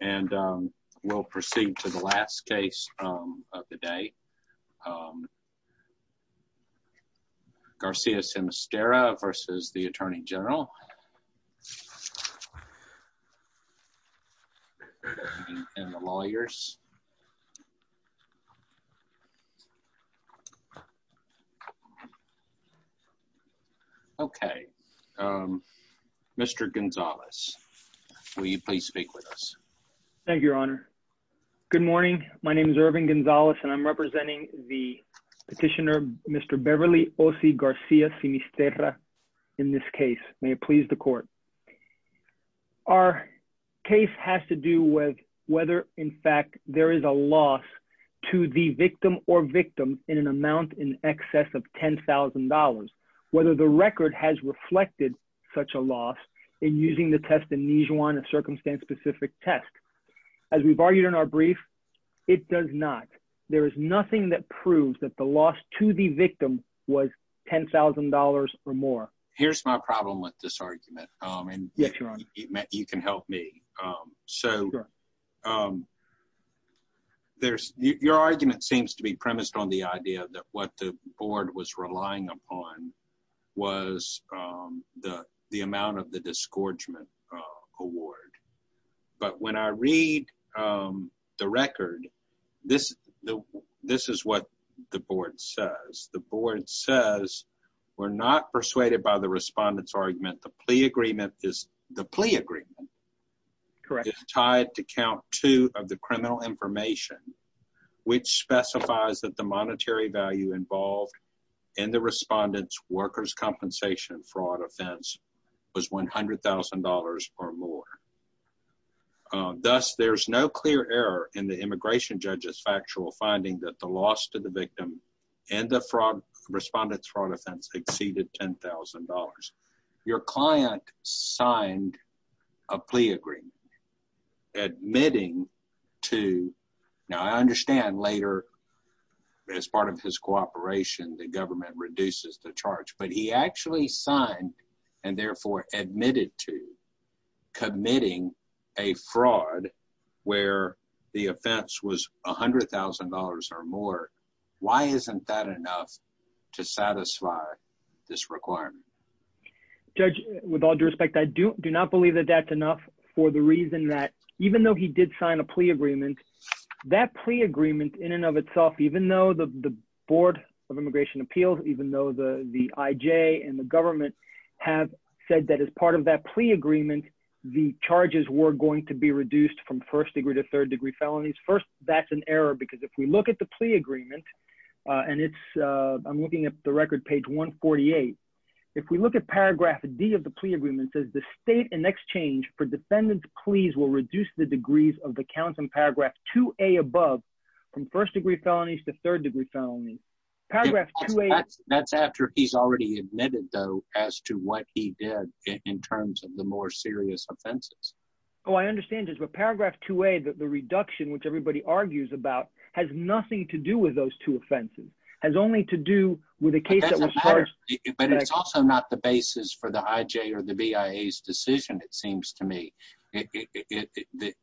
and we'll proceed to the last case of the day. Garcia-Simisterra versus the Attorney General and the lawyers. Okay, Mr. Gonzalez, will you please speak with us? Thank you, Your Honor. Good morning, my name is Irving Gonzalez and I'm representing the petitioner Mr. Beverly Osi Garcia-Simisterra in this case. May it please the court. Our case has to do with whether in fact there is a loss to the victim or victim in an amount in excess of $10,000. Whether the record has reflected such a loss in using the test in Nijuan, a circumstance-specific test. As we've argued in our brief, it does not. There is nothing that proves that the loss to the victim was $10,000 or Here's my problem with this argument. Yes, Your Honor. You can help me. Your argument seems to be premised on the idea that what the board was relying upon was the amount of the disgorgement award, but when I read the record, this is what the board says. The board says we're not persuaded by the respondent's argument. The plea agreement is tied to count two of the criminal information, which specifies that the monetary value involved in the respondent's workers' compensation fraud offense was $100,000 or more. Thus, there's no clear error in the immigration judge's factual finding that the loss to the respondent's fraud offense exceeded $10,000. Your client signed a plea agreement admitting to, now I understand later as part of his cooperation, the government reduces the charge, but he actually signed and therefore admitted to committing a fraud where the offense was $100,000 or more. Why isn't that enough to satisfy this requirement? Judge, with all due respect, I do not believe that that's enough for the reason that even though he did sign a plea agreement, that plea agreement in and of itself, even though the Board of Immigration Appeals, even though the IJ and the government have said that as part of that plea agreement, the charges were going to be reduced from first degree to third degree felonies. First, that's an error because if we look at the plea agreement, and I'm looking at the record, page 148, if we look at paragraph D of the plea agreement, it says the state in exchange for defendant's pleas will reduce the degrees of the counts in paragraph 2A above from first degree felonies to third degree felonies. Paragraph 2A- That's after he's already admitted though as to what he did in terms of the more serious offenses. Oh, I understand, Judge, but paragraph 2A, the reduction, which everybody argues about, has nothing to do with those two offenses, has only to do with a case that was charged- But it's also not the basis for the IJ or the BIA's decision, it seems to me. The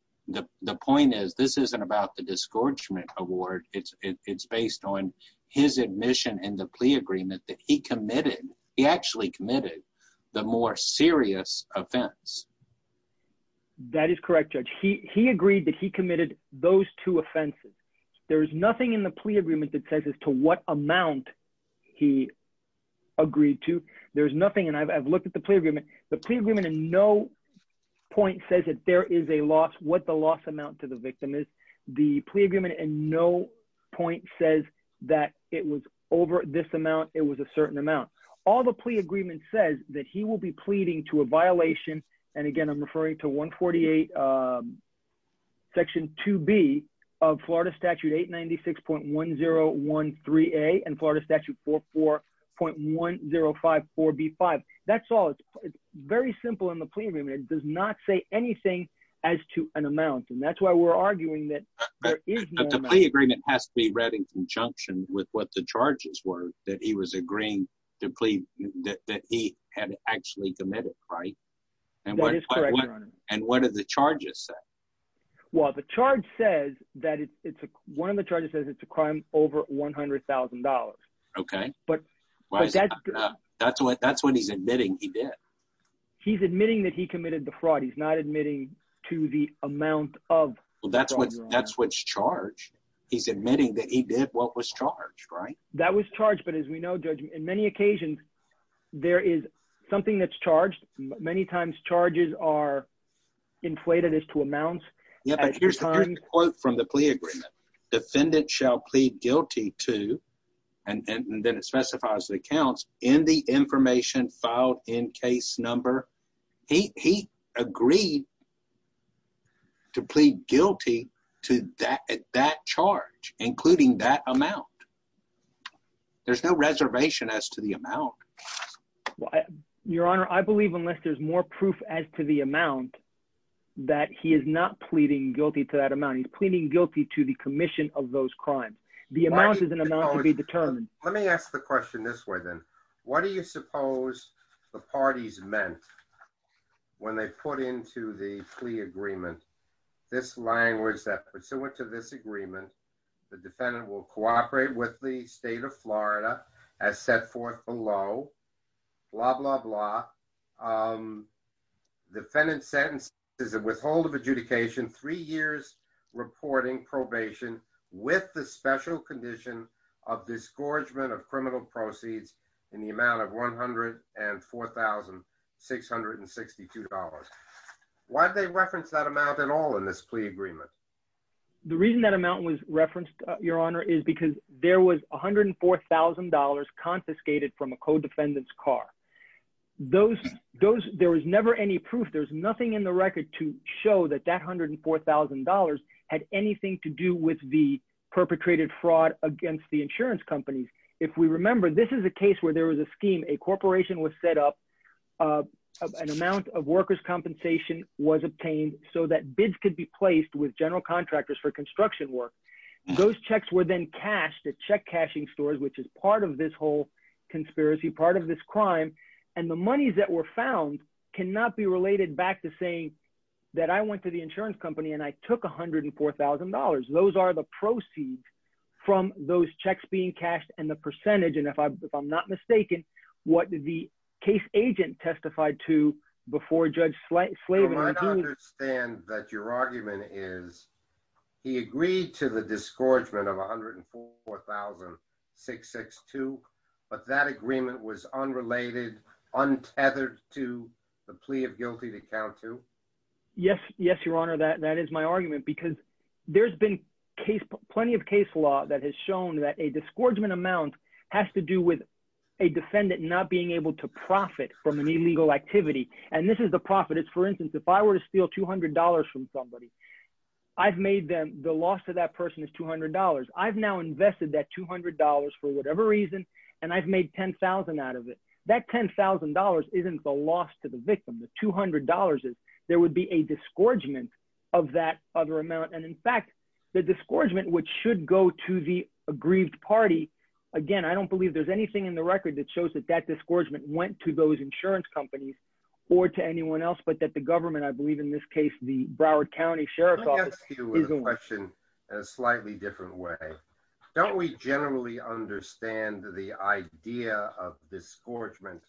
point is, this isn't about the disgorgement award. It's based on his admission in the plea agreement that he committed, he actually committed, the more serious offense. That is correct, Judge. He agreed that he committed those two offenses. There's nothing in the plea agreement that says as to what amount he agreed to. There's nothing, and I've looked at the plea agreement, the plea agreement in no point says that there is a loss, what the amount to the victim is. The plea agreement in no point says that it was over this amount, it was a certain amount. All the plea agreement says that he will be pleading to a violation, and again, I'm referring to 148 section 2B of Florida statute 896.1013A and Florida statute 44.1054B5. That's all. It's very simple in the plea agreement. It does not say anything as to an amount, and that's why we're arguing that there is no amount. But the plea agreement has to be read in conjunction with what the charges were, that he was agreeing to plead, that he had actually committed, right? That is correct, Your Honor. And what do the charges say? Well, the charge says that it's, one of the charges says it's a crime over $100,000. Okay, that's when he's admitting he did. He's admitting that he committed the fraud. He's not admitting to the amount of... Well, that's what's charged. He's admitting that he did what was charged, right? That was charged, but as we know, Judge, in many occasions, there is something that's charged. Many times charges are inflated as to amounts. Yeah, but here's the quote from the plea agreement. Defendant shall plead guilty to, and then it specifies the accounts, in the information filed in case number. He agreed to plead guilty to that charge, including that amount. There's no reservation as to the amount. Your Honor, I believe unless there's more proof as to the amount, that he is not pleading guilty to that amount. He's pleading guilty to the commission of those crimes. The amount is an amount to be determined. Let me ask the question this way then. What do you suppose the parties meant when they put into the plea agreement this language that pursuant to this agreement, the defendant will cooperate with the state of Florida as set forth below, blah, blah, blah. Defendant's sentence is a withhold of adjudication, three years reporting probation with the special condition of disgorgement of criminal proceeds in the amount of $104,662. Why did they reference that amount at all in this plea agreement? The reason that amount was referenced, Your Honor, is because there was $104,000 confiscated from a co-defendant's car. Those, there was never any proof. There's nothing in the record to show that that $104,000 had anything to do with the perpetrated fraud against the insurance companies. If we remember, this is a case where there was a scheme, a corporation was set up, an amount of workers' compensation was obtained so that bids could be placed with general contractors for construction work. Those checks were then cashed at check cashing stores, which is part of this whole conspiracy, part of this crime. And the monies that were found cannot be related back to saying that I went to the insurance company and I took $104,000. Those are the proceeds from those checks being cashed and the percentage. And if I'm not mistaken, what the case agent testified to before Judge Slaven- Yes. Yes, Your Honor. That is my argument because there's been plenty of case law that has shown that a disgorgement amount has to do with a defendant not being able to profit from an illegal activity. And this is the profit. It's, for instance, if I were to steal $200 from somebody, I've made them, the loss to that person is $200. I've now invested that $200 for whatever reason, and I've made $10,000 out of it. That $10,000 isn't the loss to the victim, the $200 is. There would be a disgorgement of that other amount. And in fact, the disgorgement, which should go to the aggrieved party, again, I don't believe there's anything in the record that shows that that disgorgement went to those insurance companies or to anyone else, but that the county sheriff's office- Let me ask you a question in a slightly different way. Don't we generally understand the idea of disgorgement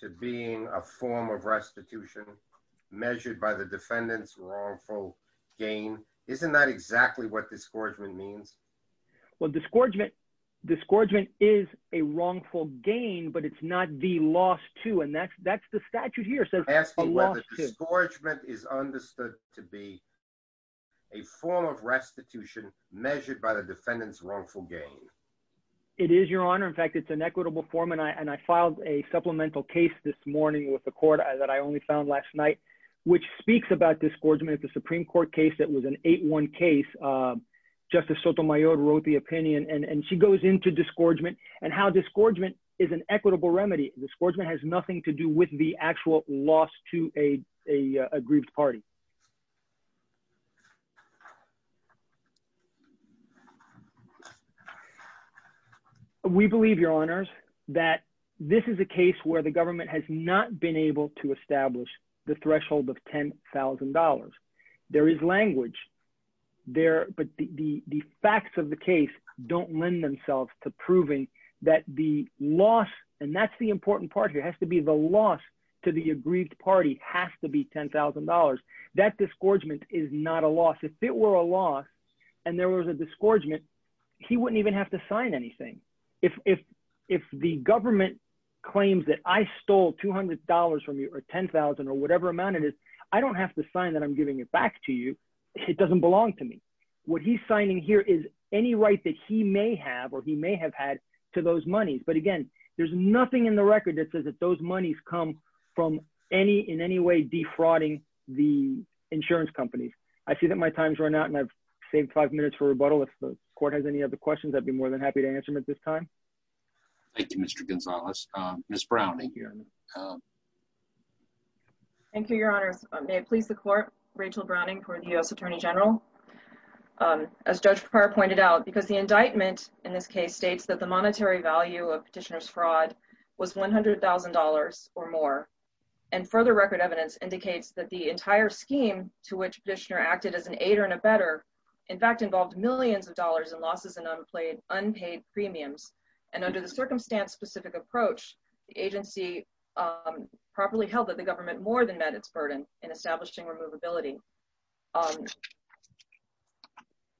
to being a form of restitution measured by the defendant's wrongful gain? Isn't that exactly what disgorgement means? Well, disgorgement is a wrongful gain, but it's not the loss to, and that's the statute here. Asking whether disgorgement is understood to be a form of restitution measured by the defendant's wrongful gain. It is, Your Honor. In fact, it's an equitable form, and I filed a supplemental case this morning with the court that I only found last night, which speaks about disgorgement. It's a Supreme Court case that was an 8-1 case. Justice Sotomayor wrote the opinion, and she goes into disgorgement and how disgorgement is an equitable remedy. Disgorgement has nothing to do with the actual loss to a grieved party. We believe, Your Honors, that this is a case where the government has not been able to establish the threshold of $10,000. There is language, but the facts of the case don't lend themselves to the loss to the aggrieved party. That disgorgement is not a loss. If it were a loss and there was a disgorgement, he wouldn't even have to sign anything. If the government claims that I stole $200 from you or $10,000 or whatever amount it is, I don't have to sign that I'm giving it back to you. It doesn't belong to me. What he's signing here is any right that he may have had to those monies. But again, there's nothing in the record that says that those monies come from in any way defrauding the insurance companies. I see that my time has run out, and I've saved five minutes for rebuttal. If the Court has any other questions, I'd be more than happy to answer them at this time. Thank you, Mr. Gonzalez. Ms. Browning. Thank you, Your Honors. May it please the Court, Rachel Browning for the U.S. Attorney General. As Judge Pappar pointed out, because the indictment in this case states that the monetary value of Petitioner's fraud was $100,000 or more, and further record evidence indicates that the entire scheme to which Petitioner acted as an aider and abetter, in fact, involved millions of dollars in losses and unpaid premiums. And under the circumstance-specific approach, the agency properly held that the government more than met its burden in establishing removability.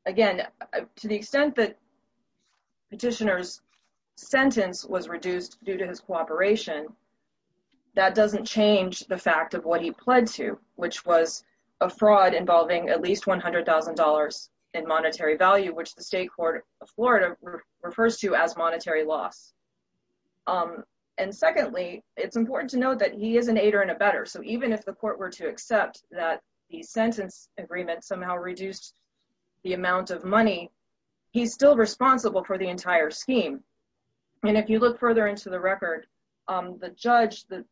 Again, to the extent that Petitioner's sentence was reduced due to his cooperation, that doesn't change the fact of what he pled to, which was a fraud involving at least $100,000 in monetary value, which the State Court of Florida refers to as monetary loss. And secondly, it's important to note that he is an aider and abetter. So even if the Court were to accept that the sentence agreement somehow reduced the amount of money, he's still responsible for the entire scheme. And if you look further into the record, the judge, the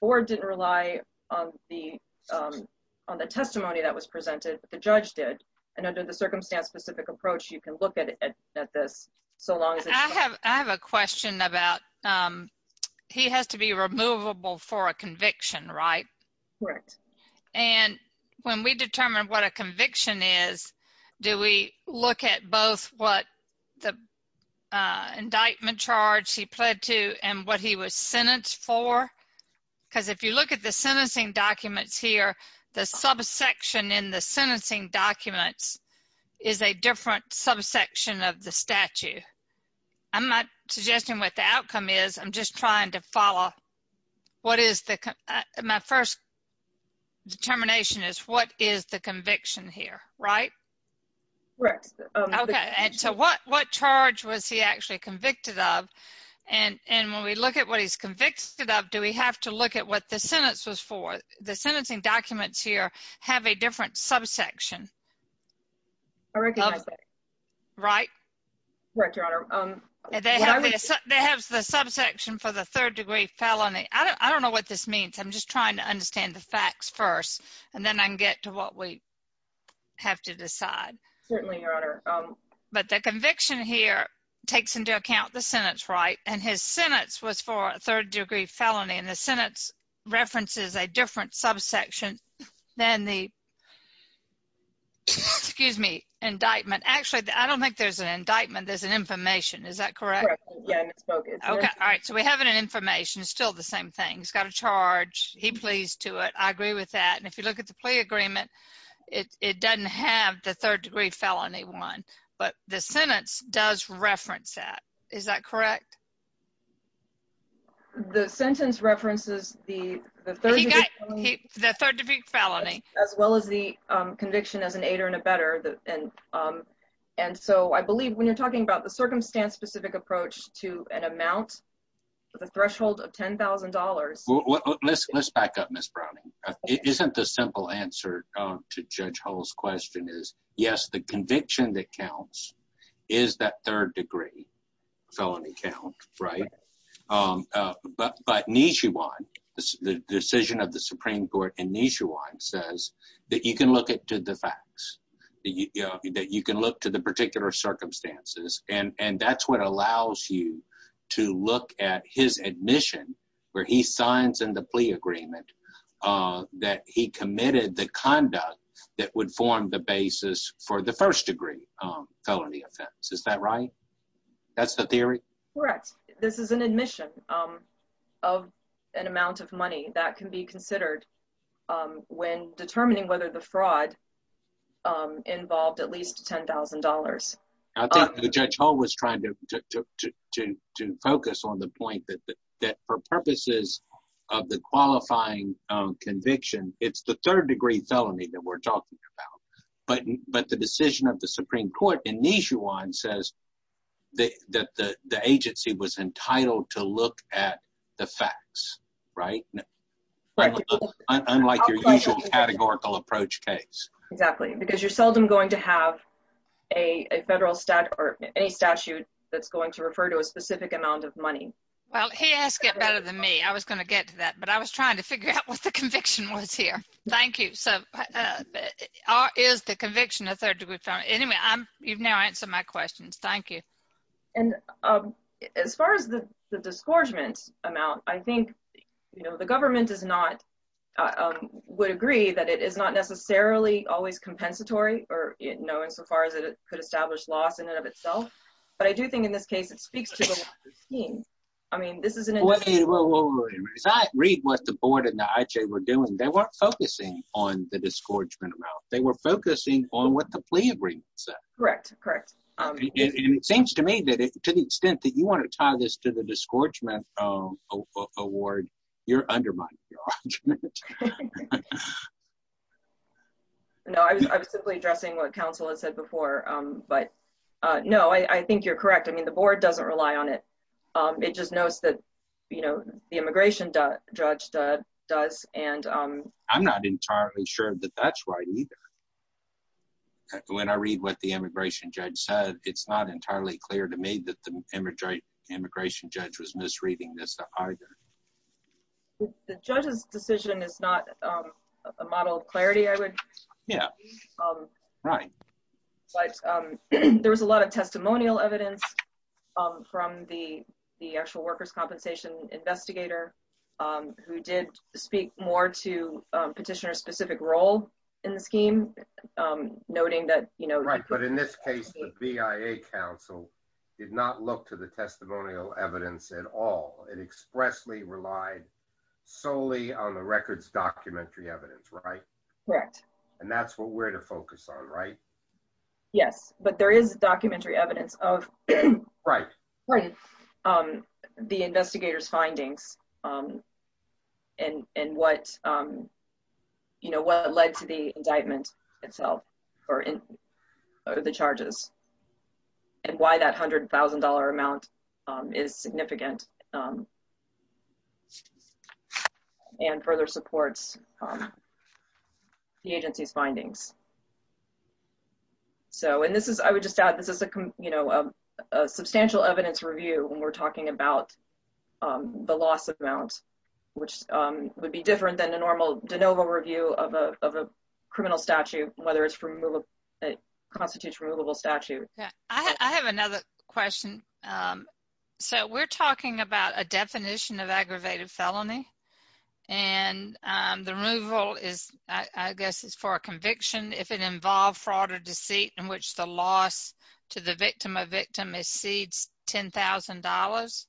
board didn't rely on the testimony that was presented, but the judge did. And under the circumstance-specific approach, you can look at this so long as it's... I have a question about, he has to be removable for a conviction, right? Correct. And when we determine what a conviction is, do we look at both what the indictment charge he pled to and what he was sentenced for? Because if you look at the sentencing documents here, the subsection in the sentencing documents is a different subsection of the statute. I'm not suggesting what the outcome is, I'm just trying to follow what is the... My first determination is what is the conviction here, right? Correct. Okay. And so what charge was he actually convicted of? And when we look at what he's convicted of, do we have to look at what the sentence was for? The sentencing documents here have a different subsection. I recognize that. Right? Correct, Your Honor. They have the subsection for the third degree felony. I don't know what this means, I'm just trying to understand the facts first, and then I can get to what we have to decide. Certainly, Your Honor. But the conviction here takes into account the sentence, right? And his sentence was for a third degree felony, and the sentence references a different subsection than the... Excuse me, indictment. Actually, I don't think there's an indictment, there's an information. Is that correct? Correct. Yeah, and it's focused. Okay. All right. So we have an information, it's still the same thing. He's got a charge, he pled to it. I agree with that. And if you look at the plea agreement, it doesn't have the third degree felony one, but the sentence does reference that. Is that correct? The sentence references the third degree felony, as well as the conviction as an aider and abetter. And so I believe when you're talking about the circumstance-specific approach to an amount, the threshold of $10,000... Let's back up, Ms. Browning. Isn't the simple answer to Judge Hull's question is, yes, the conviction that counts is that third degree felony count, right? But Nishiwan, the decision of the Supreme Court, and Nishiwan says that you can look at to the facts, that you can look to the particular circumstances. And that's what allows you to look at his admission where he signs in the plea agreement that he committed the conduct that would form the basis for the first degree felony offense. Is that right? That's the theory? Correct. This is an admission of an amount of money that can be considered when determining whether the fraud involved at least $10,000. I think Judge Hull was trying to focus on the point that for purposes of the qualifying conviction, it's the third degree felony that we're talking about. But the decision of the Supreme Court in Nishiwan says that the agency was entitled to look at the facts, right? Unlike your usual categorical approach case. Exactly. Because you're seldom going to have a federal statute or any statute that's going to refer to a specific amount of money. Well, he has to get better than me. I was going to get to that. But I was trying to figure out what the conviction was here. Thank you. So, is the conviction a third degree felony? Anyway, you've now answered my questions. Thank you. And as far as the disgorgement amount, I think, you know, the government is not, would agree that it is not necessarily always compensatory, or knowing so far as it could establish loss in and of itself. But I do think in this case, it speaks to the scheme. I mean, this is an read what the board and the IJ were doing. They weren't focusing on the disgorgement amount. They were focusing on what the plea agreement said. Correct. Correct. It seems to me that to the extent that you want to tie this to the disgorgement award, you're undermining. No, I was simply addressing what counsel has said before. But no, I think you're correct. I mean, the board doesn't rely on it. It just knows that, you know, the immigration judge does. And I'm not entirely sure that that's right either. When I read what the immigration judge said, it's not entirely clear to me that the judge's decision is not a model of clarity, I would. Yeah. Right. But there was a lot of testimonial evidence from the, the actual workers compensation investigator, who did speak more to petitioner specific role in the scheme, noting that, you know, right, but in this case, the on the records documentary evidence, right? Correct. And that's what we're to focus on, right? Yes, but there is documentary evidence of, right, right. The investigators findings. And, and what, you know, what led to the indictment itself, or in the charges, and why that $100,000 amount is significant. And further supports the agency's findings. So and this is, I would just add, this is a, you know, substantial evidence review, when we're talking about the loss of amounts, which would be different than a normal de novo review of a criminal statute, whether it's from constitutes removable statute. Yeah, I have another question. So we're talking about a definition of aggravated felony. And the removal is, I guess, is for a conviction if it involved fraud or deceit in which the loss to the victim of victim is seeds $10,000.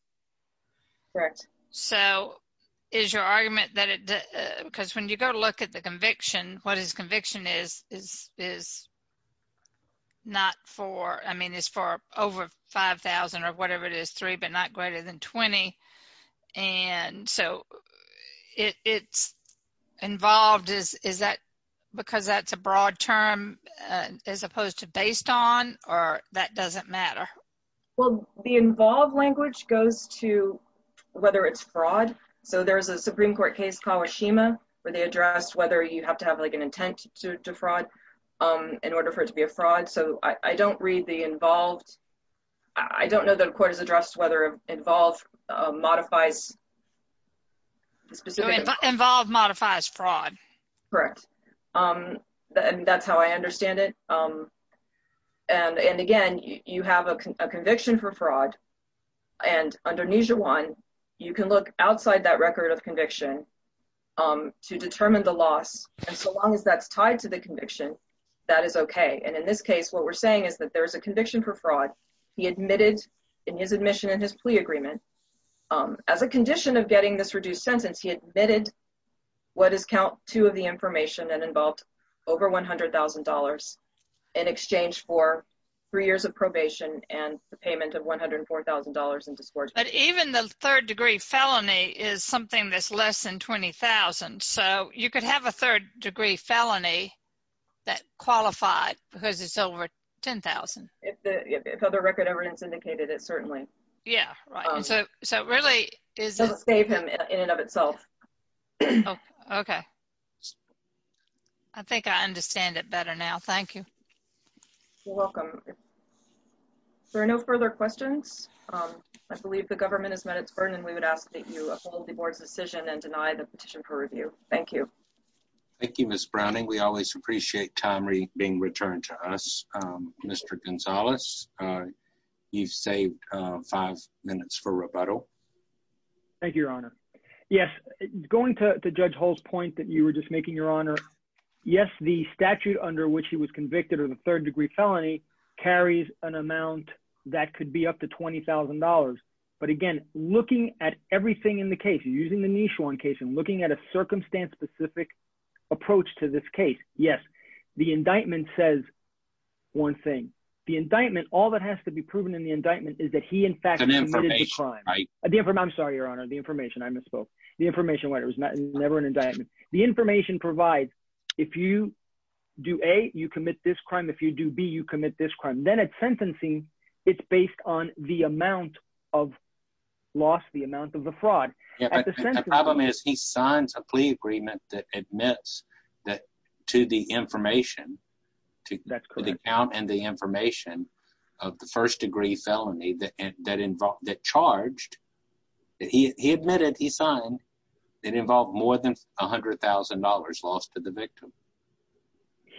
Correct. So is your definition is not for I mean, is for over 5000 or whatever it is three but not greater than 20. And so it's involved is is that because that's a broad term, as opposed to based on or that doesn't matter? Well, the involved language goes to whether it's fraud. So there's a Supreme Court case Kawashima, where they addressed whether you have to have like an intent to defraud in order for it to be a fraud. So I don't read the involved. I don't know that a court is addressed whether involved modifies involved modifies fraud. Correct. Um, that's how I understand it. And and again, you have a conviction for fraud. And underneath your one, you can look outside that record of conviction to determine the loss. And so long as that's tied to the conviction, that is okay. And in this case, what we're saying is that there's a conviction for fraud. He admitted in his admission in his plea agreement. As a condition of getting this reduced sentence, he admitted what is count two of the information and involved over $100,000 in exchange for three years of probation and the payment of $104,000 in discourage. But even the third degree felony is something that's less than 20,000. So you could have a third degree felony that qualified because it's over 10,000. If the record evidence indicated it, certainly. Yeah, right. So, so really, is it in and of itself? Okay. I think I understand it better now. Thank you. Welcome. There are no further questions. I believe the government has met its burden, we would ask that you uphold the board's decision and deny the petition for review. Thank you. Thank you, Miss Browning. We always appreciate time being returned to us. Mr. Gonzalez, you've saved five minutes for rebuttal. Thank you, Your Honor. Yes, going to Judge Hall's point that you were just making, Your Honor. Yes, the statute under which he was convicted of a third degree felony carries an amount that could be up to $20,000. But again, looking at everything in the case, using the Nishwan case and looking at a circumstance-specific approach to this case, yes, the indictment says one thing. The indictment, all that has to be proven in the indictment is that he in fact committed the crime. I'm sorry, Your Honor, the information, I misspoke. The information was never an indictment. The information provides, if you do A, you commit this crime. If you do B, you commit this crime. Then at sentencing, it's based on the amount of loss, the amount of the fraud. The problem is he signs a plea agreement that admits that to the information, to the account and the information of the first degree felony that charged, he admitted, he signed, it involved more than $100,000 lost to the victim.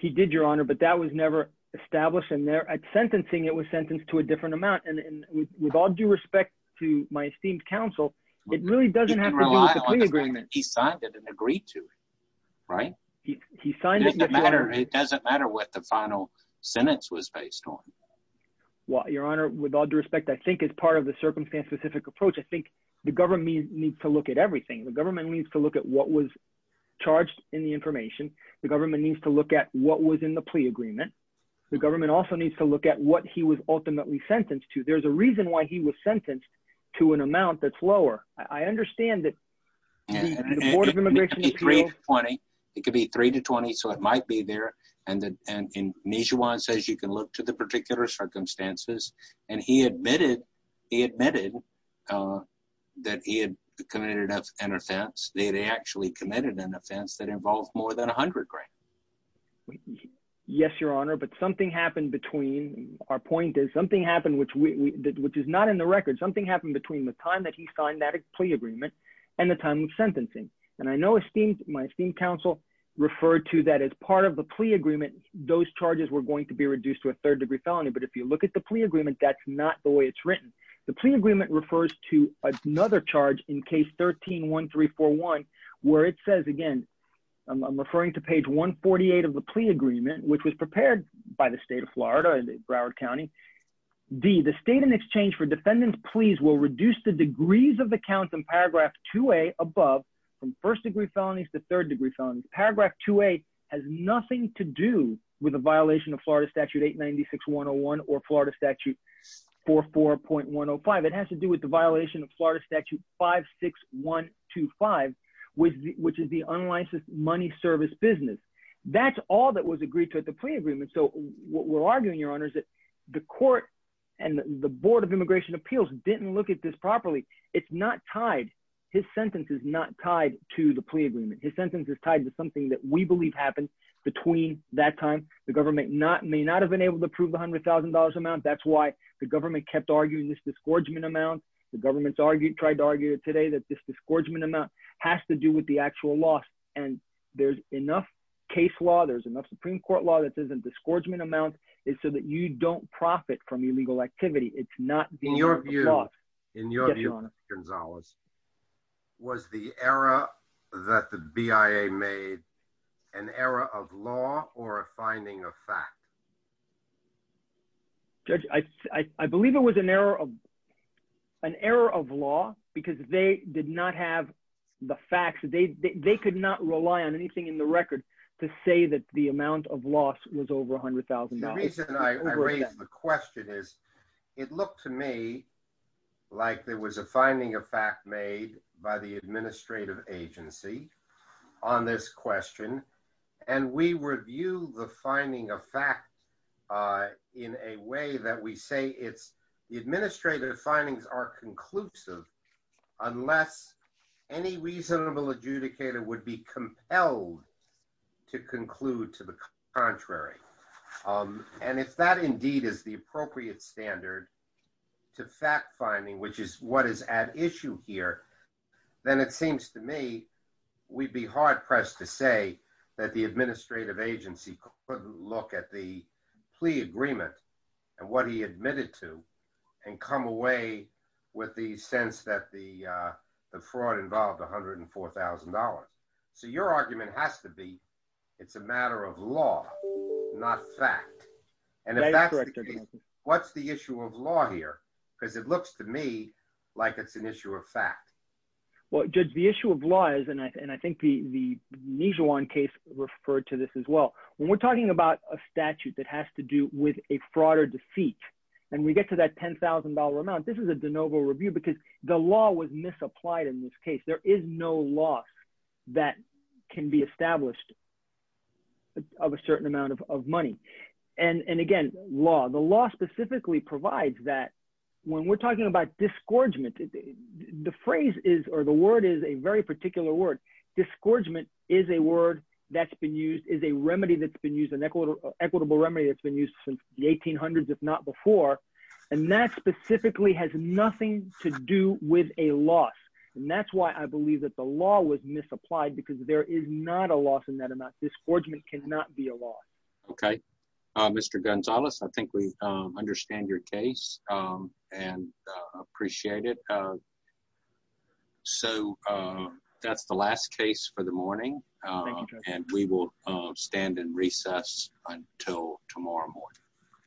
He did, Your Honor, but that was never established in there. At sentencing, it was sentenced to a different amount. With all due respect to my esteemed counsel, it really doesn't have to do with the plea agreement. He signed it and agreed to it, right? It doesn't matter what the final sentence was based on. Your Honor, with all due respect, I think as part of the circumstance-specific approach, I think the government needs to look at everything. The government needs to look at what was in the plea agreement. The government also needs to look at what he was ultimately sentenced to. There's a reason why he was sentenced to an amount that's lower. I understand that the Board of Immigration- It could be 3 to 20, so it might be there. And Nijhuan says you can look to the particular circumstances. And he admitted that he had committed an offense. They had actually committed an offense that involved more than $100,000. Yes, Your Honor, but something happened between- Our point is something happened which is not in the record. Something happened between the time that he signed that plea agreement and the time of sentencing. And I know my esteemed counsel referred to that as part of the plea agreement, those charges were going to be reduced to a third-degree felony. But if you look at the plea agreement, that's not the way it's written. The plea agreement refers to another charge in case 13-1341 where it says, again, I'm referring to page 148 of the plea agreement, which was prepared by the state of Florida, Broward County. D, the state in exchange for defendant's pleas will reduce the degrees of the count in paragraph 2A above from first-degree felonies to third-degree felonies. Paragraph 2A has nothing to do with a violation of Florida Statute 896-101 or Florida Statute 44.105. It has to do with the violation of Florida Statute 56125, which is the unlicensed money service business. That's all that was agreed to at the plea agreement. So what we're arguing, Your Honor, is that the court and the Board of Immigration Appeals didn't look at this properly. It's not tied. His sentence is not tied to the plea agreement. His sentence is tied to something that we believe happened between that time. The government may not have been able to approve $100,000 amount. That's why the government kept arguing this disgorgement amount. The government tried to argue today that this disgorgement amount has to do with the actual loss. And there's enough case law, there's enough Supreme Court law that says a disgorgement amount is so that you don't profit from illegal activity. It's not the law. In your view, Gonzalez, was the error that the BIA made an error of law or a finding of fact? Judge, I believe it was an error of law because they did not have the facts. They could not rely on anything in the record to say that the amount of loss was over $100,000. The reason I raise the question is it looked to me like there was a agency on this question. And we review the finding of fact in a way that we say it's the administrative findings are conclusive unless any reasonable adjudicator would be compelled to conclude to the contrary. And if that indeed is the appropriate standard to fact finding, which is what is at issue here, then it seems to me we'd be hard pressed to say that the administrative agency couldn't look at the plea agreement and what he admitted to and come away with the sense that the fraud involved $104,000. So your argument has to be it's a matter of law, not fact. And if that's the case, what's the issue of law here? Because it looks to me like it's an issue of fact. Well, Judge, the issue of law is, and I think the Nijuan case referred to this as well, when we're talking about a statute that has to do with a fraud or defeat, and we get to that $10,000 amount, this is a de novo review because the law was misapplied in this case. There is no law that can be established of a certain amount of money. And again, law, the law specifically provides that when we're talking about disgorgement, the phrase is, or the word is a very particular word. Disgorgement is a word that's been used, is a remedy that's been used, an equitable remedy that's been used since the 1800s, if not before. And that specifically has nothing to do with a loss. And that's why I believe that the law was misapplied because there is not a loss in that amount. Disgorgement cannot be a law. Okay. Mr. Gonzalez, I think we understand your case and appreciate it. So that's the last case for the morning. And we will stand in recess until tomorrow morning.